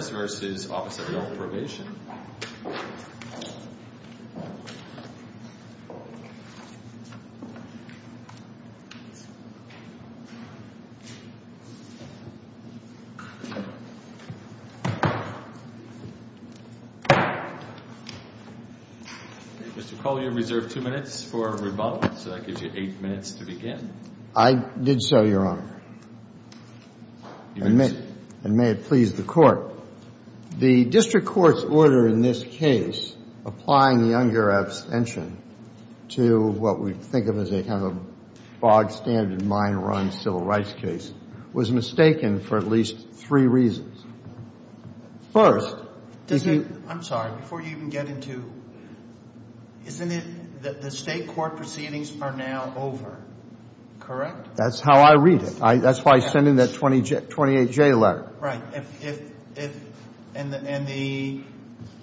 Mr. Collier, you have reserved two minutes for rebuttal, so that gives you eight minutes to begin. I did so, Your Honor, and may it please the Court. The district court's order in this case, applying the Unger abstention to what we think of as a kind of bog-standard, mine-run civil rights case, was mistaken for at least three reasons. First, is it — I'm sorry, before you even get into — isn't it that the state court proceedings are now over, correct? That's how I read it. That's why I sent in that 28J letter. Right. And the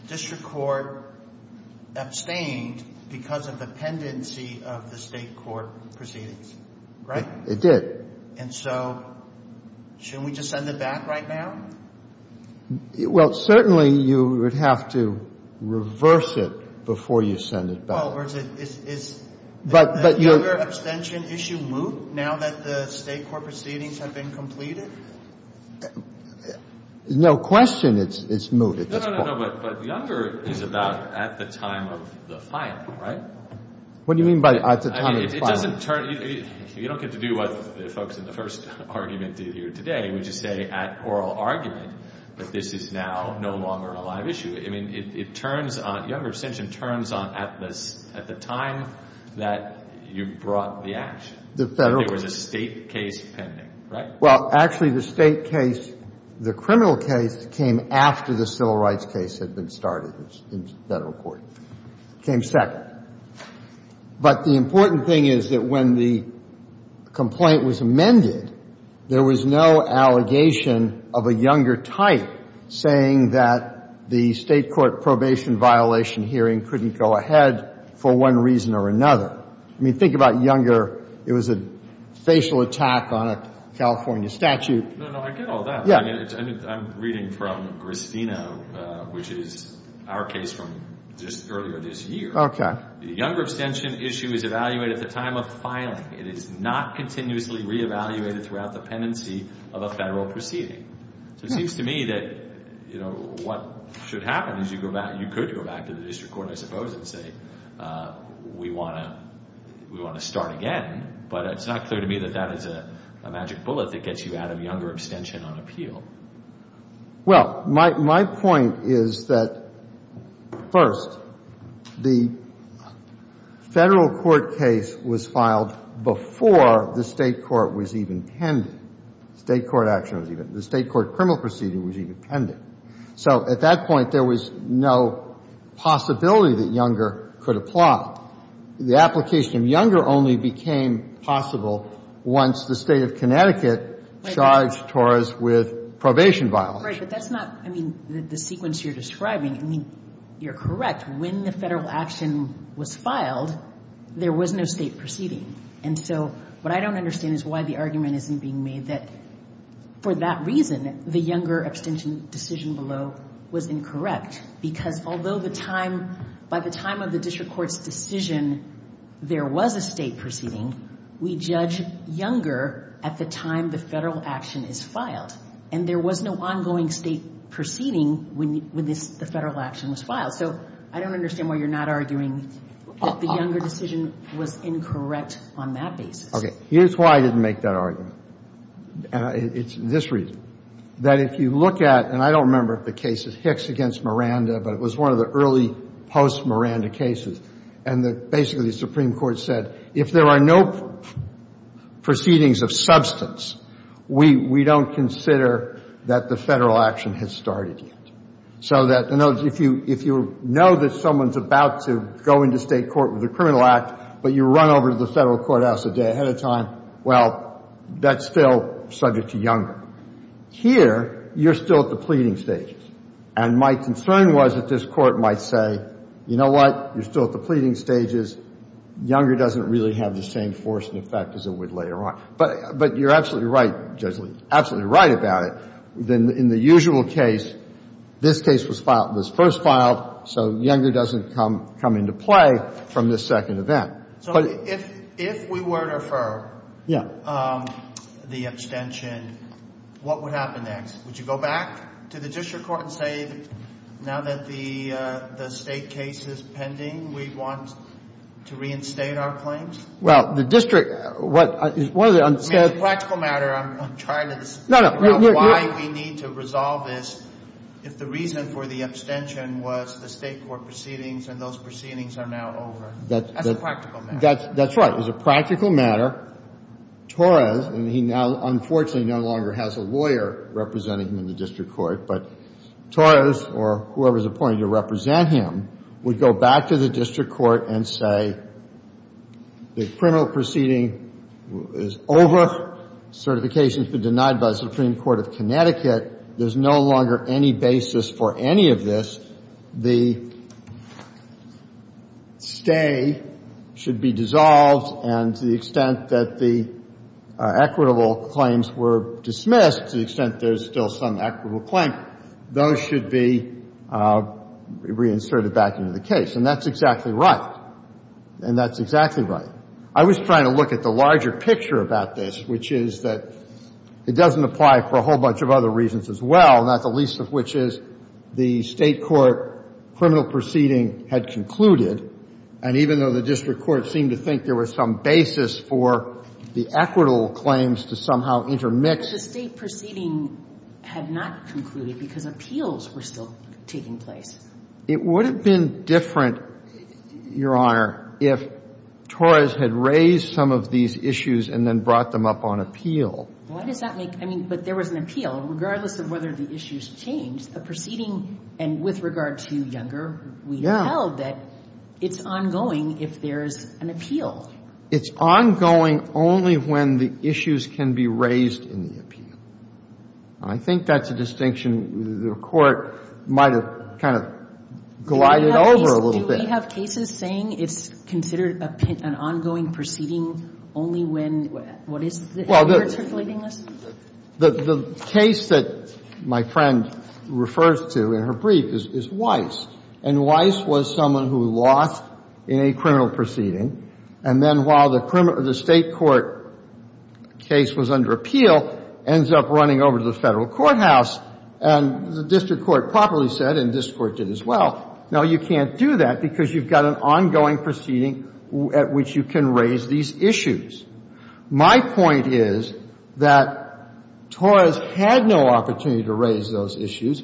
district court abstained because of the pendency of the state court proceedings, right? It did. And so shouldn't we just send it back right now? Well, certainly you would have to reverse it before you send it back. Well, or is it — is the Unger abstention issue moot now that the state court proceedings have been completed? No question it's moot at this point. No, no, no, no, but the Unger is about at the time of the filing, right? What do you mean by at the time of the filing? It doesn't turn — you don't get to do what the folks in the first argument did here today, which is say at oral argument, but this is now no longer a live issue. I mean, it turns on — the Unger abstention turns on at the time that you brought the action. The federal court — There was a state case pending, right? Well, actually, the state case — the criminal case came after the civil rights case had been started in federal court. It came second. But the important thing is that when the complaint was amended, there was no allegation of a Unger type saying that the state court probation violation hearing couldn't go ahead for one reason or another. I mean, think about Unger. It was a facial attack on a California statute. No, no, I get all that. Yeah. I mean, I'm reading from Gristino, which is our case from just earlier this year. Okay. The Unger abstention issue is evaluated at the time of filing. It is not continuously reevaluated throughout the pendency of a federal proceeding. So it seems to me that, you know, what should happen is you go back — you could go back to the district court, I suppose, and say we want to start again, but it's not clear to me that that is a magic bullet that gets you out of Unger abstention on appeal. Well, my point is that, first, the federal court case was filed before the state court was even pending. State court action was even — the state court criminal proceeding was even pending. So at that point, there was no possibility that Unger could apply. The application of Unger only became possible once the State of Connecticut charged Torres with probation violence. Right. But that's not, I mean, the sequence you're describing. I mean, you're correct. When the federal action was filed, there was no state proceeding. And so what I don't understand is why the argument isn't being made that for that reason, the Unger abstention decision below was incorrect. Because although the time — by the time of the district court's decision, there was a state proceeding, we judge Unger at the time the federal action is filed. And there was no ongoing state proceeding when this — the federal action was filed. So I don't understand why you're not arguing that the Unger decision was incorrect on that basis. Okay. Here's why I didn't make that argument. And it's this reason. That if you look at — and I don't remember if the case is Hicks against Miranda, but it was one of the early post-Miranda cases. And basically the Supreme Court said, if there are no proceedings of substance, we don't consider that the federal action has started yet. So that if you know that someone's about to go into state court with a criminal act, but you run over to the federal courthouse a day ahead of time, well, that's still subject to Unger. Here, you're still at the pleading stages. And my concern was that this Court might say, you know what? You're still at the pleading stages. Unger doesn't really have the same force and effect as it would later on. But you're absolutely right, Judge Lee, absolutely right about it. Then in the usual case, this case was filed — was first filed, so Unger doesn't come into play from this second event. So if we were to refer the abstention, what would happen next? Would you go back to the district court and say, now that the state case is pending, we want to reinstate our claims? Well, the district — one of the — It's a practical matter. I'm trying to — No, no. Why we need to resolve this, if the reason for the abstention was the state court proceedings, and those proceedings are now over. That's a practical matter. That's right. It's a practical matter. Torres — and he now, unfortunately, no longer has a lawyer representing him in the district court — but Torres, or whoever is appointed to represent him, would go back to the district court and say, the criminal proceeding is over. Certification has been denied by the Supreme Court of Connecticut. There's no longer any basis for any of this. The stay should be dissolved. And to the extent that the equitable claims were dismissed, to the extent there's still some equitable claim, those should be reinserted back into the case. And that's exactly right. And that's exactly right. I was trying to look at the larger picture about this, which is that it doesn't apply for a whole bunch of other reasons as well, not the least of which is the state court criminal proceeding had concluded. And even though the district court seemed to think there was some basis for the equitable claims to somehow intermix — But the state proceeding had not concluded because appeals were still taking place. It would have been different, Your Honor, if Torres had raised some of these issues and then brought them up on appeal. Why does that make — I mean, but there was an appeal. Regardless of whether the issues changed, the proceeding — and with regard to Younger, we held that it's ongoing if there's an appeal. It's ongoing only when the issues can be raised in the appeal. And I think that's a distinction the Court might have kind of glided over a little Do we have cases saying it's considered an ongoing proceeding only when — what is the — Well, the case that my friend refers to in her brief is Weiss. And Weiss was someone who lost in a criminal proceeding, and then while the state court case was under appeal, ends up running over to the Federal courthouse. And the district court properly said, and this Court did as well, no, you can't do that because you've got an ongoing proceeding at which you can raise these issues. My point is that Torres had no opportunity to raise those issues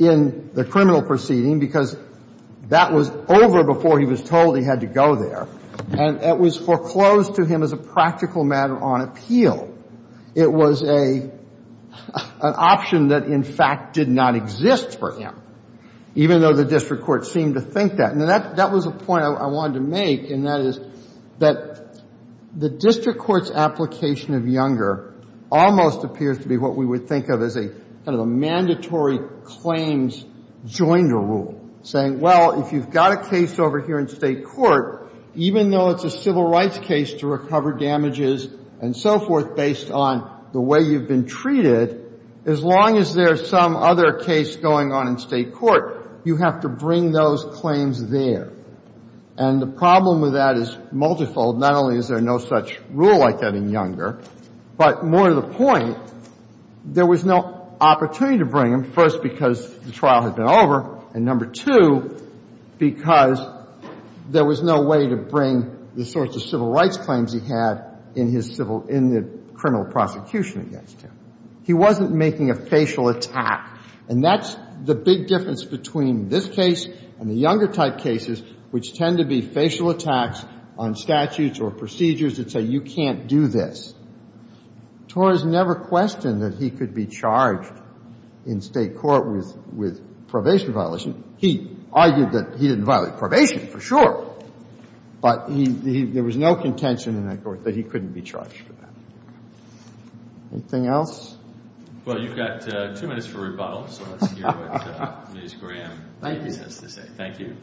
in the criminal proceeding because that was over before he was told he had to go there. And it was foreclosed to him as a practical matter on appeal. It was an option that, in fact, did not exist for him, even though the district court seemed to think that. That was a point I wanted to make, and that is that the district court's application of Younger almost appears to be what we would think of as a kind of a mandatory claims joinder rule, saying, well, if you've got a case over here in state court, even though it's a civil rights case to recover damages and so forth based on the way you've been treated, as long as there's some other case going on in state court, you have to bring those claims there. And the problem with that is multifold. Not only is there no such rule like that in Younger, but more to the point, there was no opportunity to bring them, first because the trial had been over, and number two, because there was no way to bring the sorts of civil rights claims he had in his civil — in the criminal prosecution against him. He wasn't making a facial attack. And that's the big difference between this case and the Younger-type cases, which tend to be facial attacks on statutes or procedures that say, you can't do this. Torres never questioned that he could be charged in state court with probation violation. He argued that he didn't violate probation, for sure, but there was no contention in that court that he couldn't be charged for that. Anything else? Well, you've got two minutes for rebuttal. So let's hear what Ms. Graham has to say. Thank you.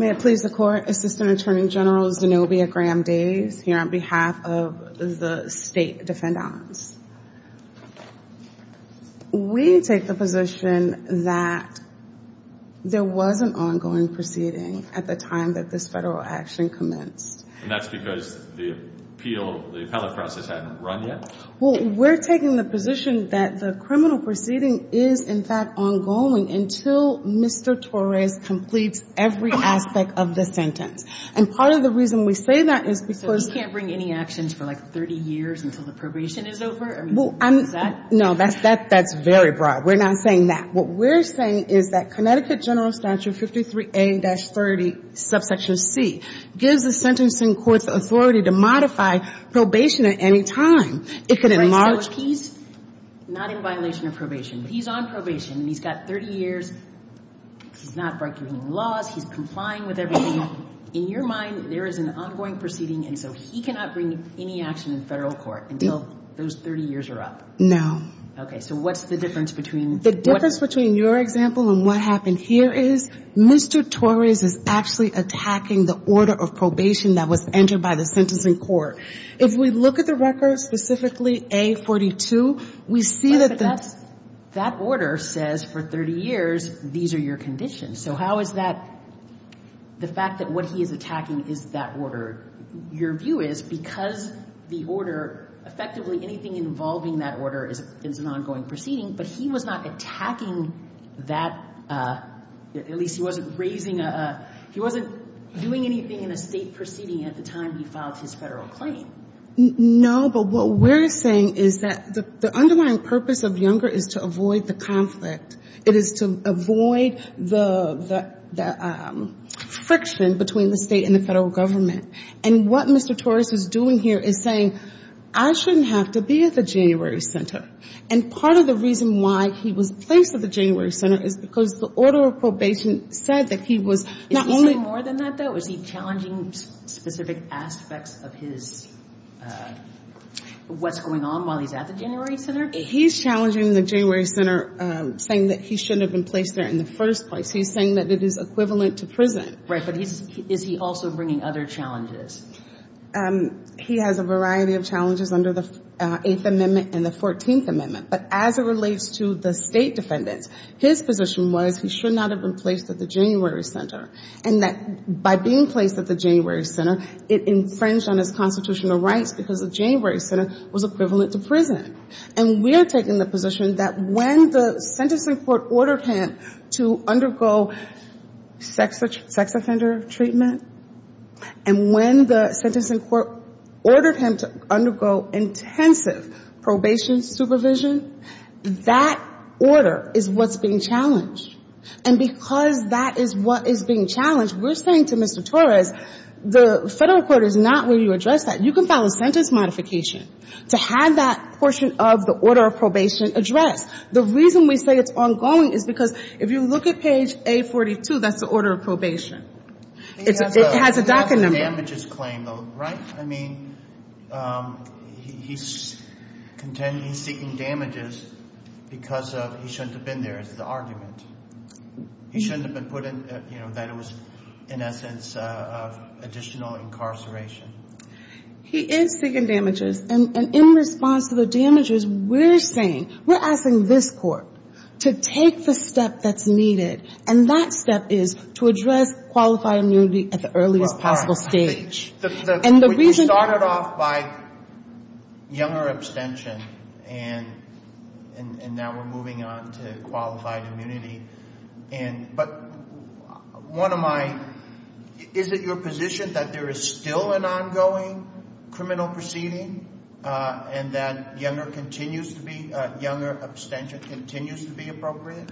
May it please the Court, Assistant Attorney General Zenobia Graham-Days, here on behalf of the State Defendants. We take the position that there was an ongoing proceeding at the time that this Federal action commenced. And that's because the appeal, the appellate process hadn't run yet? Well, we're taking the position that the criminal proceeding is, in fact, ongoing until Mr. Torres completes every aspect of the sentence. And part of the reason we say that is because — Well, I'm not asking you to bring any actions for, like, 30 years until the probation is over. I mean, is that — Well, no, that's very broad. We're not saying that. What we're saying is that Connecticut General Statute 53A-30, subsection C, gives the sentencing court the authority to modify probation at any time. It could enlarge — So he's not in violation of probation, but he's on probation, and he's got 30 years. He's not breaking any laws. He's complying with everything. In your mind, there is an ongoing proceeding, and so he cannot bring any action in Federal court until those 30 years are up? No. Okay. So what's the difference between — The difference between your example and what happened here is Mr. Torres is actually attacking the order of probation that was entered by the sentencing court. If we look at the record, specifically A-42, we see that — But that's — that order says for 30 years, these are your conditions. So how is that — the fact that what he is attacking is that order, your view is, because the order — effectively, anything involving that order is an ongoing proceeding, but he was not attacking that — at least he wasn't raising a — he wasn't doing anything in a State proceeding at the time he filed his Federal claim. No, but what we're saying is that the underlying purpose of Younger is to avoid the conflict. It is to avoid the — the friction between the State and the Federal government. And what Mr. Torres is doing here is saying, I shouldn't have to be at the January Center. And part of the reason why he was placed at the January Center is because the order of probation said that he was not only — Is he saying more than that, though? Is he challenging specific aspects of his — what's going on while he's at the January Center? He's challenging the January Center, saying that he shouldn't have been placed there in the first place. He's saying that it is equivalent to prison. Right. But he's — is he also bringing other challenges? He has a variety of challenges under the Eighth Amendment and the Fourteenth Amendment. But as it relates to the State defendants, his position was he should not have been placed at the January Center, and that by being placed at the January Center, it infringed on his constitutional rights because the January Center was equivalent to prison. And we're taking the position that when the sentencing court ordered him to undergo sex offender treatment, and when the sentencing court ordered him to undergo intensive probation supervision, that order is what's being challenged. And because that is what is being challenged, we're saying to Mr. Torres, the federal court is not where you address that. You can file a sentence modification to have that portion of the order of probation addressed. The reason we say it's ongoing is because if you look at page A42, that's the order of probation. It has a DACA number. He has a damages claim, though, right? I mean, he's seeking damages because he shouldn't have been there is the He shouldn't have been put in — you know, that it was, in essence, additional incarceration. He is seeking damages. And in response to the damages, we're saying — we're asking this court to take the step that's needed, and that step is to address qualified immunity at the earliest possible stage. And the reason — You started off by younger abstention, and now we're moving on to qualified immunity. And — but one of my — is it your position that there is still an ongoing criminal proceeding and that younger continues to be — younger abstention continues to be appropriate?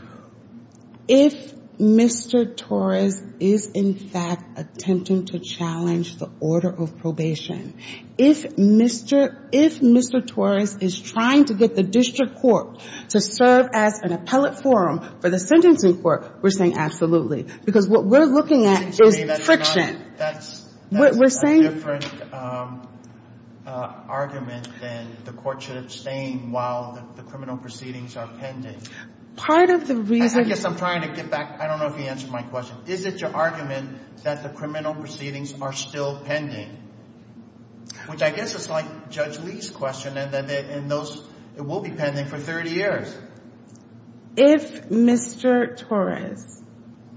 If Mr. Torres is, in fact, attempting to challenge the order of probation, if Mr. Torres is trying to get the district court to serve as an appellate forum for the sentencing court, we're saying absolutely, because what we're looking at is friction. That's a different argument than the court should abstain while the criminal proceedings are pending. Part of the reason — I guess I'm trying to get back — I don't know if you answered my question. Is it your argument that the criminal proceedings are still pending, which I guess is like Judge Lee's question, and those — it will be pending for 30 years? If — if Mr. Torres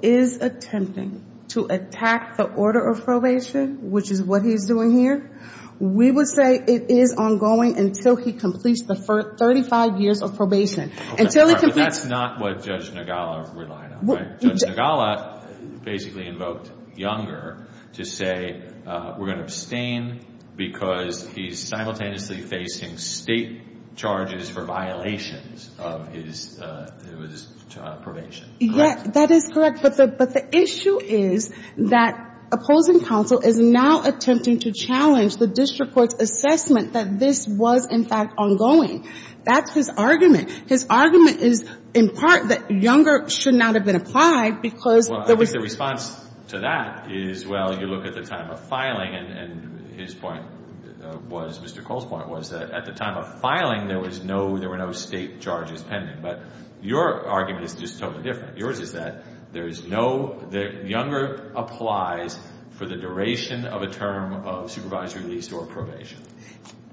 is attempting to attack the order of probation, which is what he's doing here, we would say it is ongoing until he completes the first 35 years of probation. Until he completes — That's not what Judge Nagala relied on, right? Judge Nagala basically invoked younger to say we're going to abstain because he's simultaneously facing state charges for violations of his probation, correct? Yes, that is correct. But the issue is that opposing counsel is now attempting to challenge the district court's assessment that this was, in fact, ongoing. That's his argument. His argument is, in part, that younger should not have been applied because — Well, I think the response to that is, well, you look at the time of filing and his point was — Mr. Cole's point was that at the time of filing, there was no — there were no state charges pending. But your argument is just totally different. Yours is that there is no — that younger applies for the duration of a term of supervisory release or probation.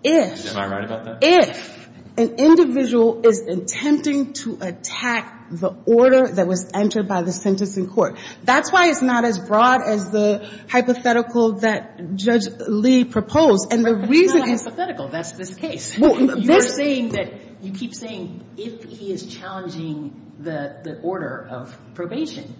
If — Am I right about that? If an individual is attempting to attack the order that was entered by the sentencing court, that's why it's not as broad as the hypothetical that Judge Lee proposed. And the reason is — It's not a hypothetical. That's this case. Well, this — You're saying that — you keep saying if he is challenging the order of probation,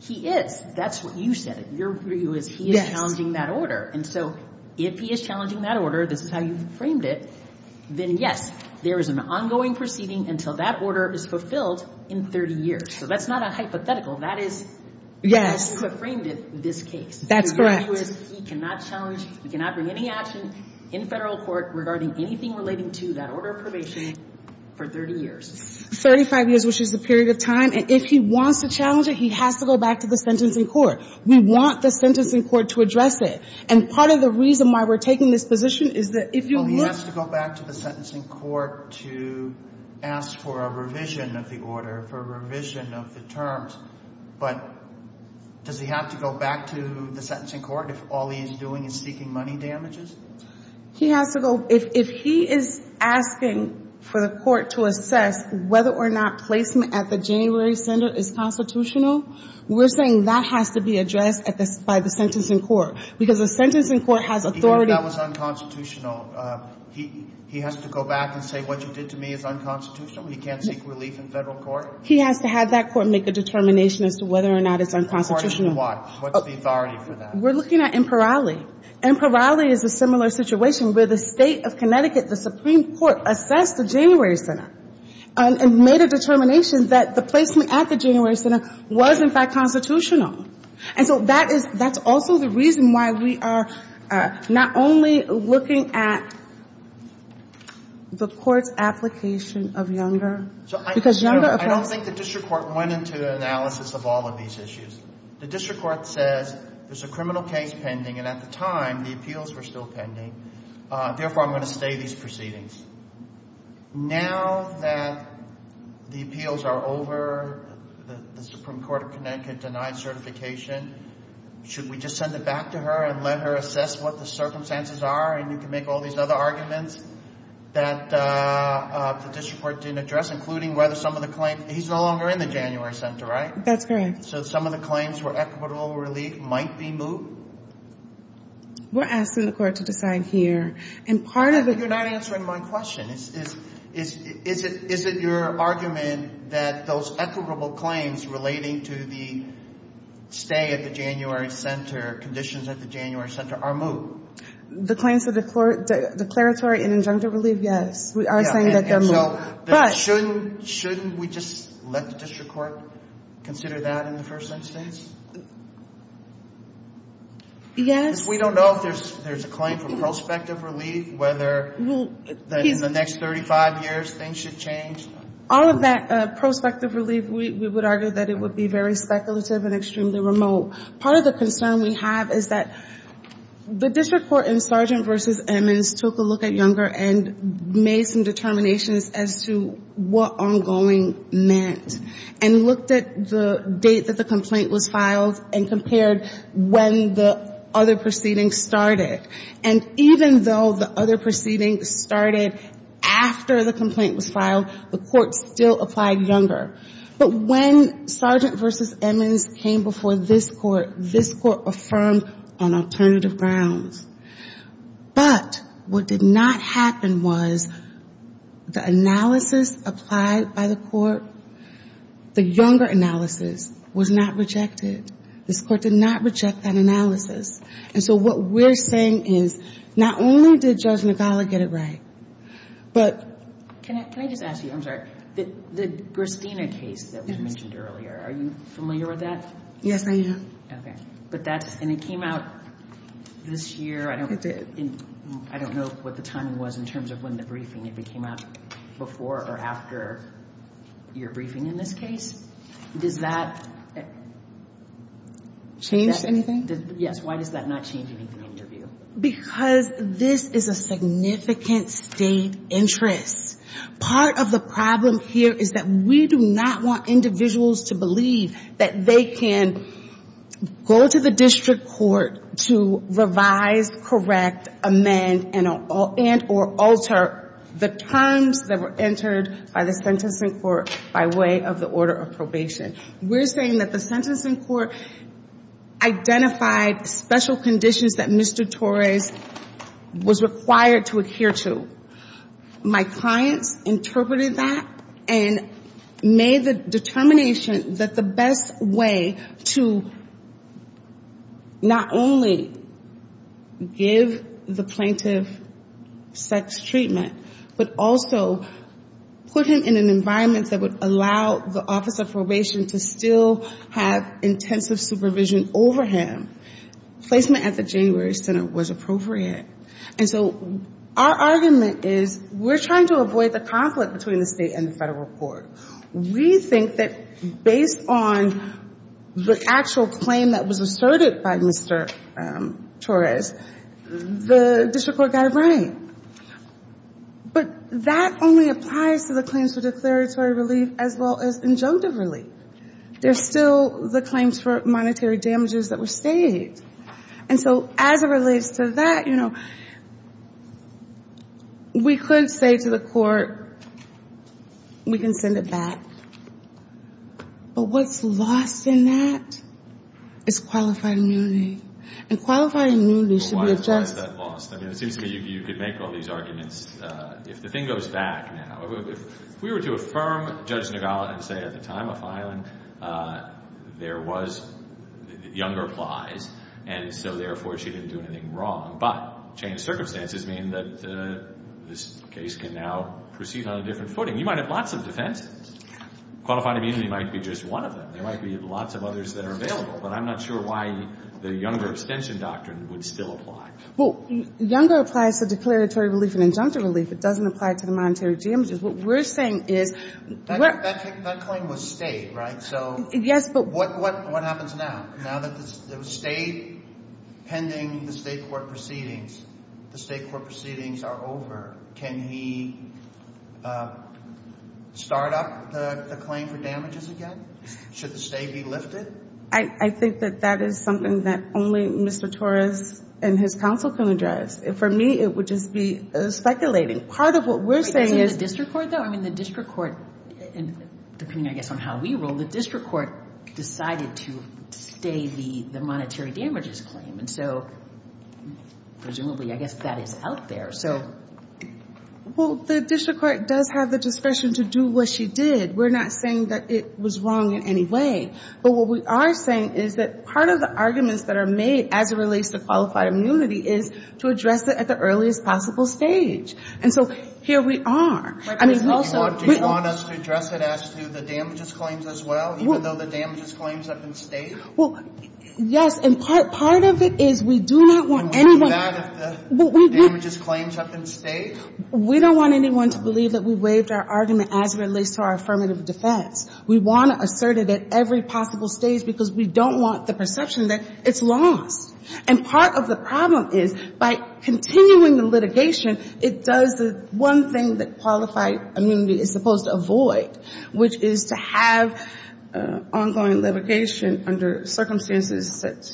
he is. That's what you said. Your view is he is challenging that order. And so if he is challenging that order — this is how you framed it — then, yes, there is an ongoing proceeding until that order is fulfilled in 30 years. So that's not a hypothetical. That is — As you have framed it, this case. That's correct. Your view is he cannot challenge — he cannot bring any action in federal court regarding anything relating to that order of probation for 30 years. Thirty-five years, which is the period of time. And if he wants to challenge it, he has to go back to the sentencing court. We want the sentencing court to address it. And part of the reason why we're taking this position is that if you look — Well, he has to go back to the sentencing court to ask for a revision of the order, for a revision of the terms. But does he have to go back to the sentencing court if all he is doing is seeking money damages? He has to go — if he is asking for the court to assess whether or not placement at the January center is constitutional, we're saying that has to be addressed by the sentencing court. Because the sentencing court has authority — That was unconstitutional. He has to go back and say, what you did to me is unconstitutional. He can't seek relief in federal court. He has to have that court make a determination as to whether or not it's unconstitutional. According to what? What's the authority for that? We're looking at Imperale. Imperale is a similar situation where the State of Connecticut, the Supreme Court, assessed the January center and made a determination that the placement at the January center was, in fact, constitutional. And so that is — that's also the reason why we are not only looking at the court's application of Younger, because Younger — I don't think the district court went into the analysis of all of these issues. The district court says there's a criminal case pending, and at the time, the appeals were still pending. Therefore, I'm going to stay these proceedings. Now that the appeals are over, the Supreme Court of Connecticut denied certification, should we just send it back to her and let her assess what the circumstances are, and you can make all these other arguments that the district court didn't address, including whether some of the claims — he's no longer in the January center, right? That's correct. So some of the claims for equitable relief might be moved? We're asking the court to decide here. And part of the — You're not answering my question. Is it your argument that those equitable claims relating to the stay at the January center, conditions at the January center, are moved? The claims of declaratory and injunctive relief, yes. We are saying that they're moved. But shouldn't we just let the district court consider that in the first instance? Yes. We don't know if there's a claim for prospective relief, whether in the next 35 years things should change. All of that prospective relief, we would argue that it would be very speculative and extremely remote. Part of the concern we have is that the district court in Sargent v. Emmons took a look at Younger and made some determinations as to what ongoing meant, and looked at the date that the complaint was filed and compared when the other proceeding started. And even though the other proceeding started after the complaint was filed, the court still applied Younger. But when Sargent v. Emmons came before this court, this court affirmed on alternative grounds. But what did not happen was the analysis applied by the court, the Younger analysis, was not rejected. This court did not reject that analysis. And so what we're saying is, not only did Judge Nicala get it right, but... Can I just ask you, I'm sorry, the Christina case that we mentioned earlier, are you familiar with that? Yes, I am. Okay. But that's, and it came out this year, I don't know what the timing was in terms of when the briefing, if it came out before or after your briefing in this case. Does that... Change anything? Yes. Why does that not change anything in the interview? Because this is a significant state interest. Part of the problem here is that we do not want individuals to believe that they can go to the district court to revise, correct, amend, and or alter the terms that were entered by the sentencing court by way of the order of probation. We're saying that the sentencing court identified special conditions that Mr. Torres was required to adhere to. My clients interpreted that and made the determination that the best way to not only give the plaintiff sex treatment, but also put him in an environment that would allow the office of probation to still have intensive supervision over him, placement at the January Senate was appropriate. And so our argument is we're trying to avoid the conflict between the state and the federal court. We think that based on the actual claim that was asserted by Mr. Torres, the district court got it right. But that only applies to the claims for declaratory relief, as well as injunctive relief. There's still the claims for monetary damages that were staged. And so as it relates to that, you know, we could say to the court, we can send it back. But what's lost in that is qualified immunity. And qualified immunity should be addressed. Why is that lost? It seems to me you could make all these arguments. If the thing goes back now, if we were to affirm Judge Nagala and say at the time of filing, there was younger plies, and so therefore she didn't do anything wrong. But changed circumstances mean that this case can now proceed on a different footing. You might have lots of defenses. Qualified immunity might be just one of them. There might be lots of others that are available. But I'm not sure why the younger extension doctrine would still apply. Well, younger applies to declaratory relief and injunctive relief. It doesn't apply to the monetary damages. What we're saying is- That claim was stayed, right? So what happens now? Now that it was stayed pending the state court proceedings, the state court proceedings are over. Can he start up the claim for damages again? Should the stay be lifted? I think that that is something that only Mr. Torres and his counsel can address. For me, it would just be speculating. Part of what we're saying is- Wait, isn't the district court, though? I mean, the district court, depending, I guess, on how we rule, the district court decided to stay the monetary damages claim. And so presumably, I guess that is out there. Well, the district court does have the discretion to do what she did. We're not saying that it was wrong in any way. But what we are saying is that part of the arguments that are made as it relates to qualified immunity is to address it at the earliest possible stage. And so here we are. I mean, we also- Do you want us to address it as to the damages claims as well, even though the damages claims have been stayed? Well, yes. And part of it is we do not want anyone- Do you want to do that if the damages claims have been stayed? We don't want anyone to believe that we waived our argument as it relates to our affirmative defense. We want to assert it at every possible stage because we don't want the perception that it's lost. And part of the problem is by continuing the litigation, it does the one thing that qualified immunity is supposed to avoid, which is to have ongoing litigation under circumstances that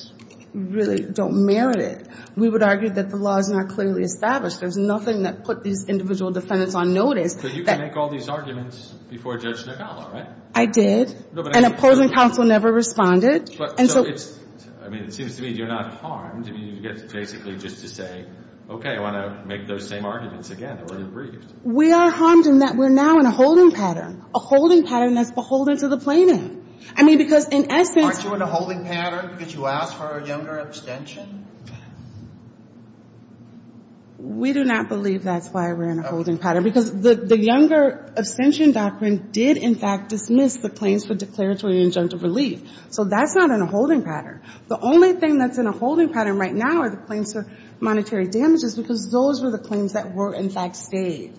really don't merit it. We would argue that the law is not clearly established. There's nothing that put these individual defendants on notice. So you can make all these arguments before Judge Nicala, right? I did. And opposing counsel never responded. And so it's- I mean, it seems to me you're not harmed. I mean, you get basically just to say, okay, I want to make those same arguments again that were debriefed. We are harmed in that we're now in a holding pattern, a holding pattern that's beholden to the plaintiff. I mean, because in essence- Aren't you in a holding pattern because you asked for a younger abstention? We do not believe that's why we're in a holding pattern because the younger abstention doctrine did, in fact, dismiss the claims for declaratory and injunctive relief. So that's not in a holding pattern. The only thing that's in a holding pattern right now are the claims for monetary damages because those were the claims that were, in fact, saved.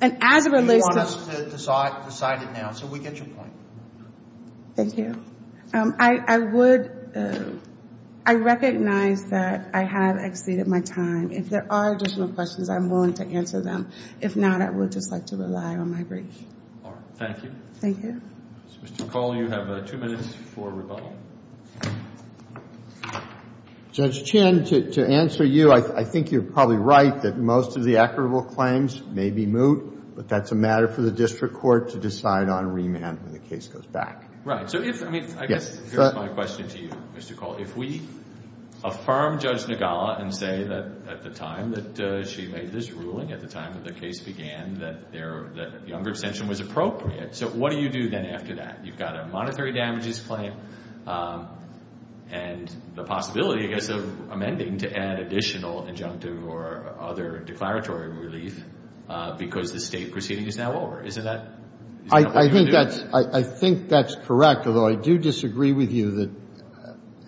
And as it relates to- You want us to decide it now so we get your point. Thank you. I would- I recognize that I have exceeded my time. If there are additional questions, I'm willing to answer them. If not, I would just like to rely on my brief. All right. Thank you. Thank you. Mr. McCall, you have two minutes for rebuttal. Judge Chin, to answer you, I think you're probably right that most of the equitable claims may be moot, but that's a matter for the district court to decide on remand when the case goes back. Right. I guess here's my question to you, Mr. Call. If we affirm Judge Nagala and say that at the time that she made this ruling, at the time that the case began, that the younger extension was appropriate, so what do you do then after that? You've got a monetary damages claim and the possibility, I guess, of amending to add additional injunctive or other declaratory relief because the state proceeding is now over. Isn't that what you're doing? I think that's correct, although I do disagree with you that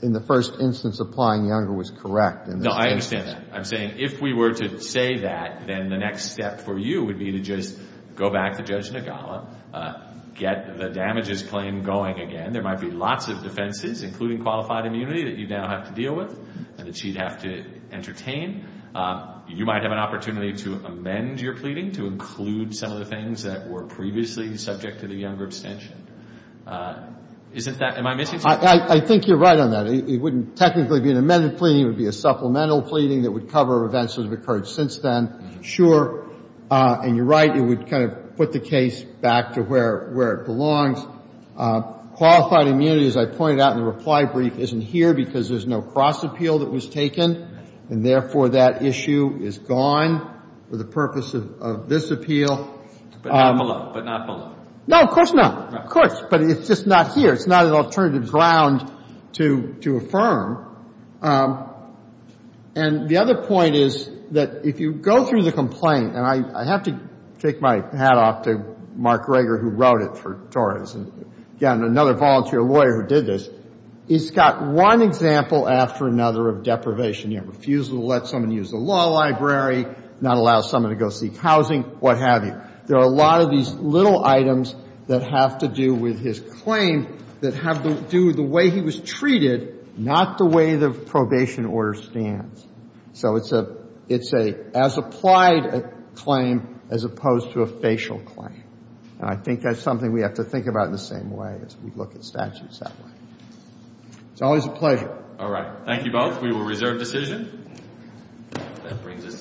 in the first instance applying younger was correct. No, I understand that. I'm saying if we were to say that, then the next step for you would be to just go back to Judge Nagala, get the damages claim going again. There might be lots of defenses, including qualified immunity that you now have to deal with and that she'd have to entertain. You might have an opportunity to amend your pleading to include some of the previously subject to the younger extension. Isn't that – am I missing something? I think you're right on that. It wouldn't technically be an amended pleading. It would be a supplemental pleading that would cover events that have occurred since then. Sure, and you're right, it would kind of put the case back to where it belongs. Qualified immunity, as I pointed out in the reply brief, isn't here because there's no cross appeal that was taken, and therefore that issue is gone for the purpose of this appeal. But not below. But not below. No, of course not. Of course. But it's just not here. It's not an alternative ground to affirm. And the other point is that if you go through the complaint – and I have to take my hat off to Mark Greger, who wrote it for Torres, and, again, another volunteer lawyer who did this – it's got one example after another of deprivation. You have refusal to let someone use the law library, not allow someone to go seek housing, what have you. There are a lot of these little items that have to do with his claim that have to do with the way he was treated, not the way the probation order stands. So it's an as-applied claim as opposed to a facial claim. And I think that's something we have to think about in the same way as we look at statutes that way. It's always a pleasure. All right. Thank you both. We will reserve decision.